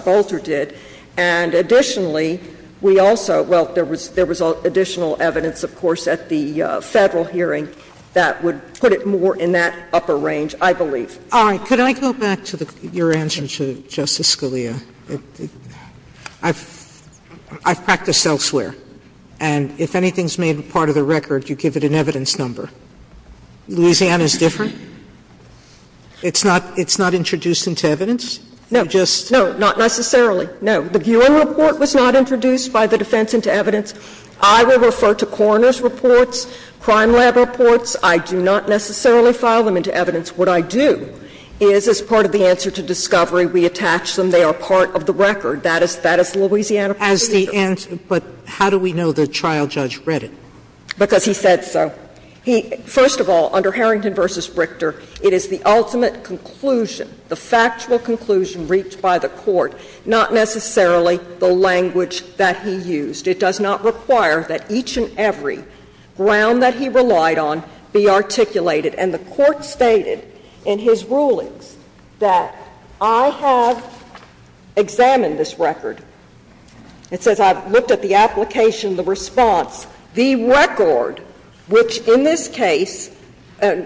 Bolter did. And additionally, we also – well, there was additional evidence, of course, at the Federal hearing that would put it more in that upper range, I believe. Sotomayor, could I go back to your answer to Justice Scalia? I've practiced elsewhere, and if anything's made part of the record, you give it an evidence number. Louisiana is different? It's not introduced into evidence? You just – No, not necessarily. No. The Buell report was not introduced by the defense into evidence. I will refer to Coroner's reports, Crime Lab reports. I do not necessarily file them into evidence. What I do is, as part of the answer to discovery, we attach them. They are part of the record. That is Louisiana procedure. As the answer – but how do we know the trial judge read it? Because he said so. He – first of all, under Harrington v. Brichter, it is the ultimate conclusion, the factual conclusion reached by the court, not necessarily the language that he used. It does not require that each and every ground that he relied on be articulated. And the Court stated in his rulings that I have examined this record. It says I've looked at the application, the response. The record, which in this case,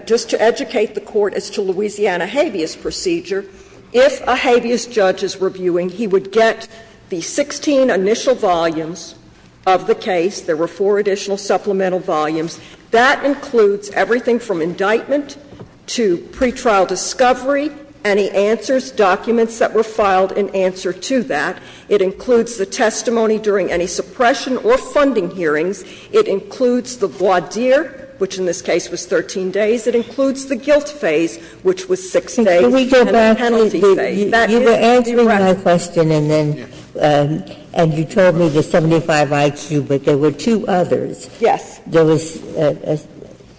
just to educate the Court as to Louisiana habeas procedure, if a habeas judge is reviewing, he would get the 16 initial volumes of the case. There were four additional supplemental volumes. That includes everything from indictment to pretrial discovery, any answers, documents that were filed in answer to that. It includes the testimony during any suppression or funding hearings. It includes the voir dire, which in this case was 13 days. It includes the guilt phase, which was 6 days, and the penalty phase. Ginsburg-Miller You were answering my question, and then you told me the 75IQ, but there were two others. There was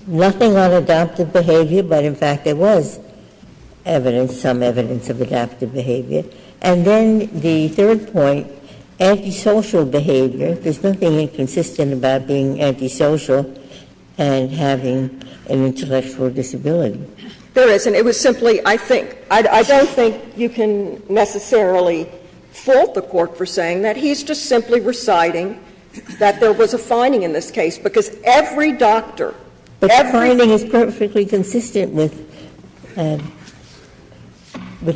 nothing on adaptive behavior, but in fact there was evidence, some evidence of adaptive behavior. And then the third point, antisocial behavior. There's nothing inconsistent about being antisocial and having an intellectual disability. There isn't. It was simply, I think — I don't think you can necessarily fault the Court for saying that. He's just simply reciting that there was a finding in this case, because every doctor, every doctor. But the finding is perfectly consistent with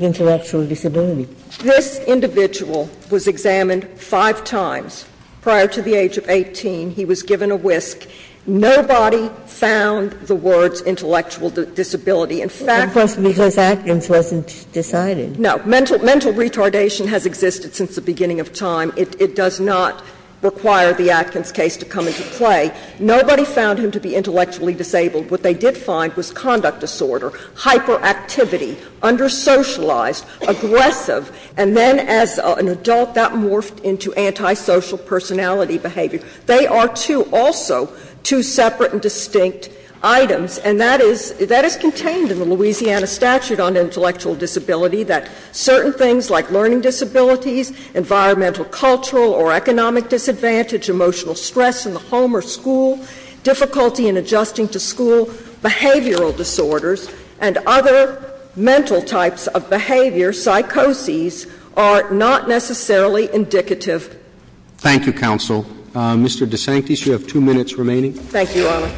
intellectual disability. This individual was examined five times prior to the age of 18. He was given a whisk. Nobody found the words intellectual disability. In fact — Ginsburg-Miller Of course, because Atkins wasn't decided. Miller No. Mental retardation has existed since the beginning of time. It does not require the Atkins case to come into play. Nobody found him to be intellectually disabled. What they did find was conduct disorder, hyperactivity, under socialized, aggressive. And then as an adult, that morphed into antisocial personality behavior. They are two also, two separate and distinct items. And that is — that is contained in the Louisiana statute on intellectual disability, that certain things like learning disabilities, environmental, cultural, or economic disadvantage, emotional stress in the home or school, difficulty in adjusting to school, behavioral disorders, and other mental types of behavior, psychoses, are not necessarily indicative. Roberts Thank you, counsel. Mr. DeSantis, you have two minutes remaining. DeSantis Thank you, Your Honor.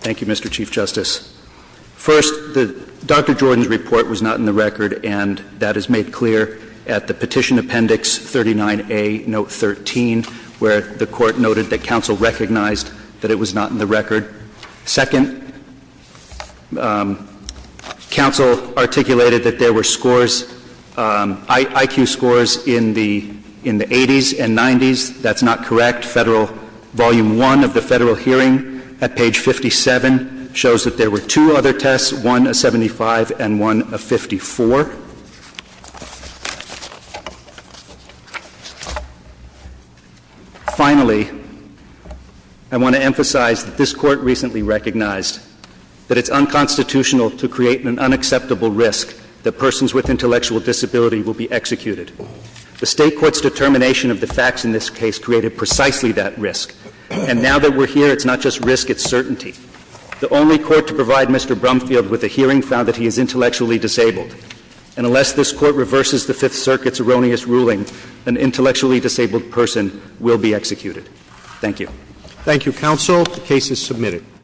Thank you, Mr. Chief Justice. First, Dr. Jordan's report was not in the record, and that is made clear at the Petition Appendix 39A, Note 13, where the Court noted that counsel recognized that it was not in the record. Second, counsel articulated that there were scores — IQ scores in the 80s and 90s. That's not correct. Federal — Volume I of the Federal Hearing at page 57 shows that there were two other tests, one of 75 and one of 54. Finally, I want to emphasize that this Court recently recognized that it's unconstitutional to create an unacceptable risk that persons with intellectual disability will be executed. The State Court's determination of the facts in this case created precisely that risk. And now that we're here, it's not just risk, it's certainty. The only court to provide Mr. Brumfield with a hearing found that he is intellectually disabled. And unless this Court reverses the Fifth Circuit's erroneous ruling, an intellectually disabled person will be executed. Thank you. Roberts Thank you, counsel. The case is submitted.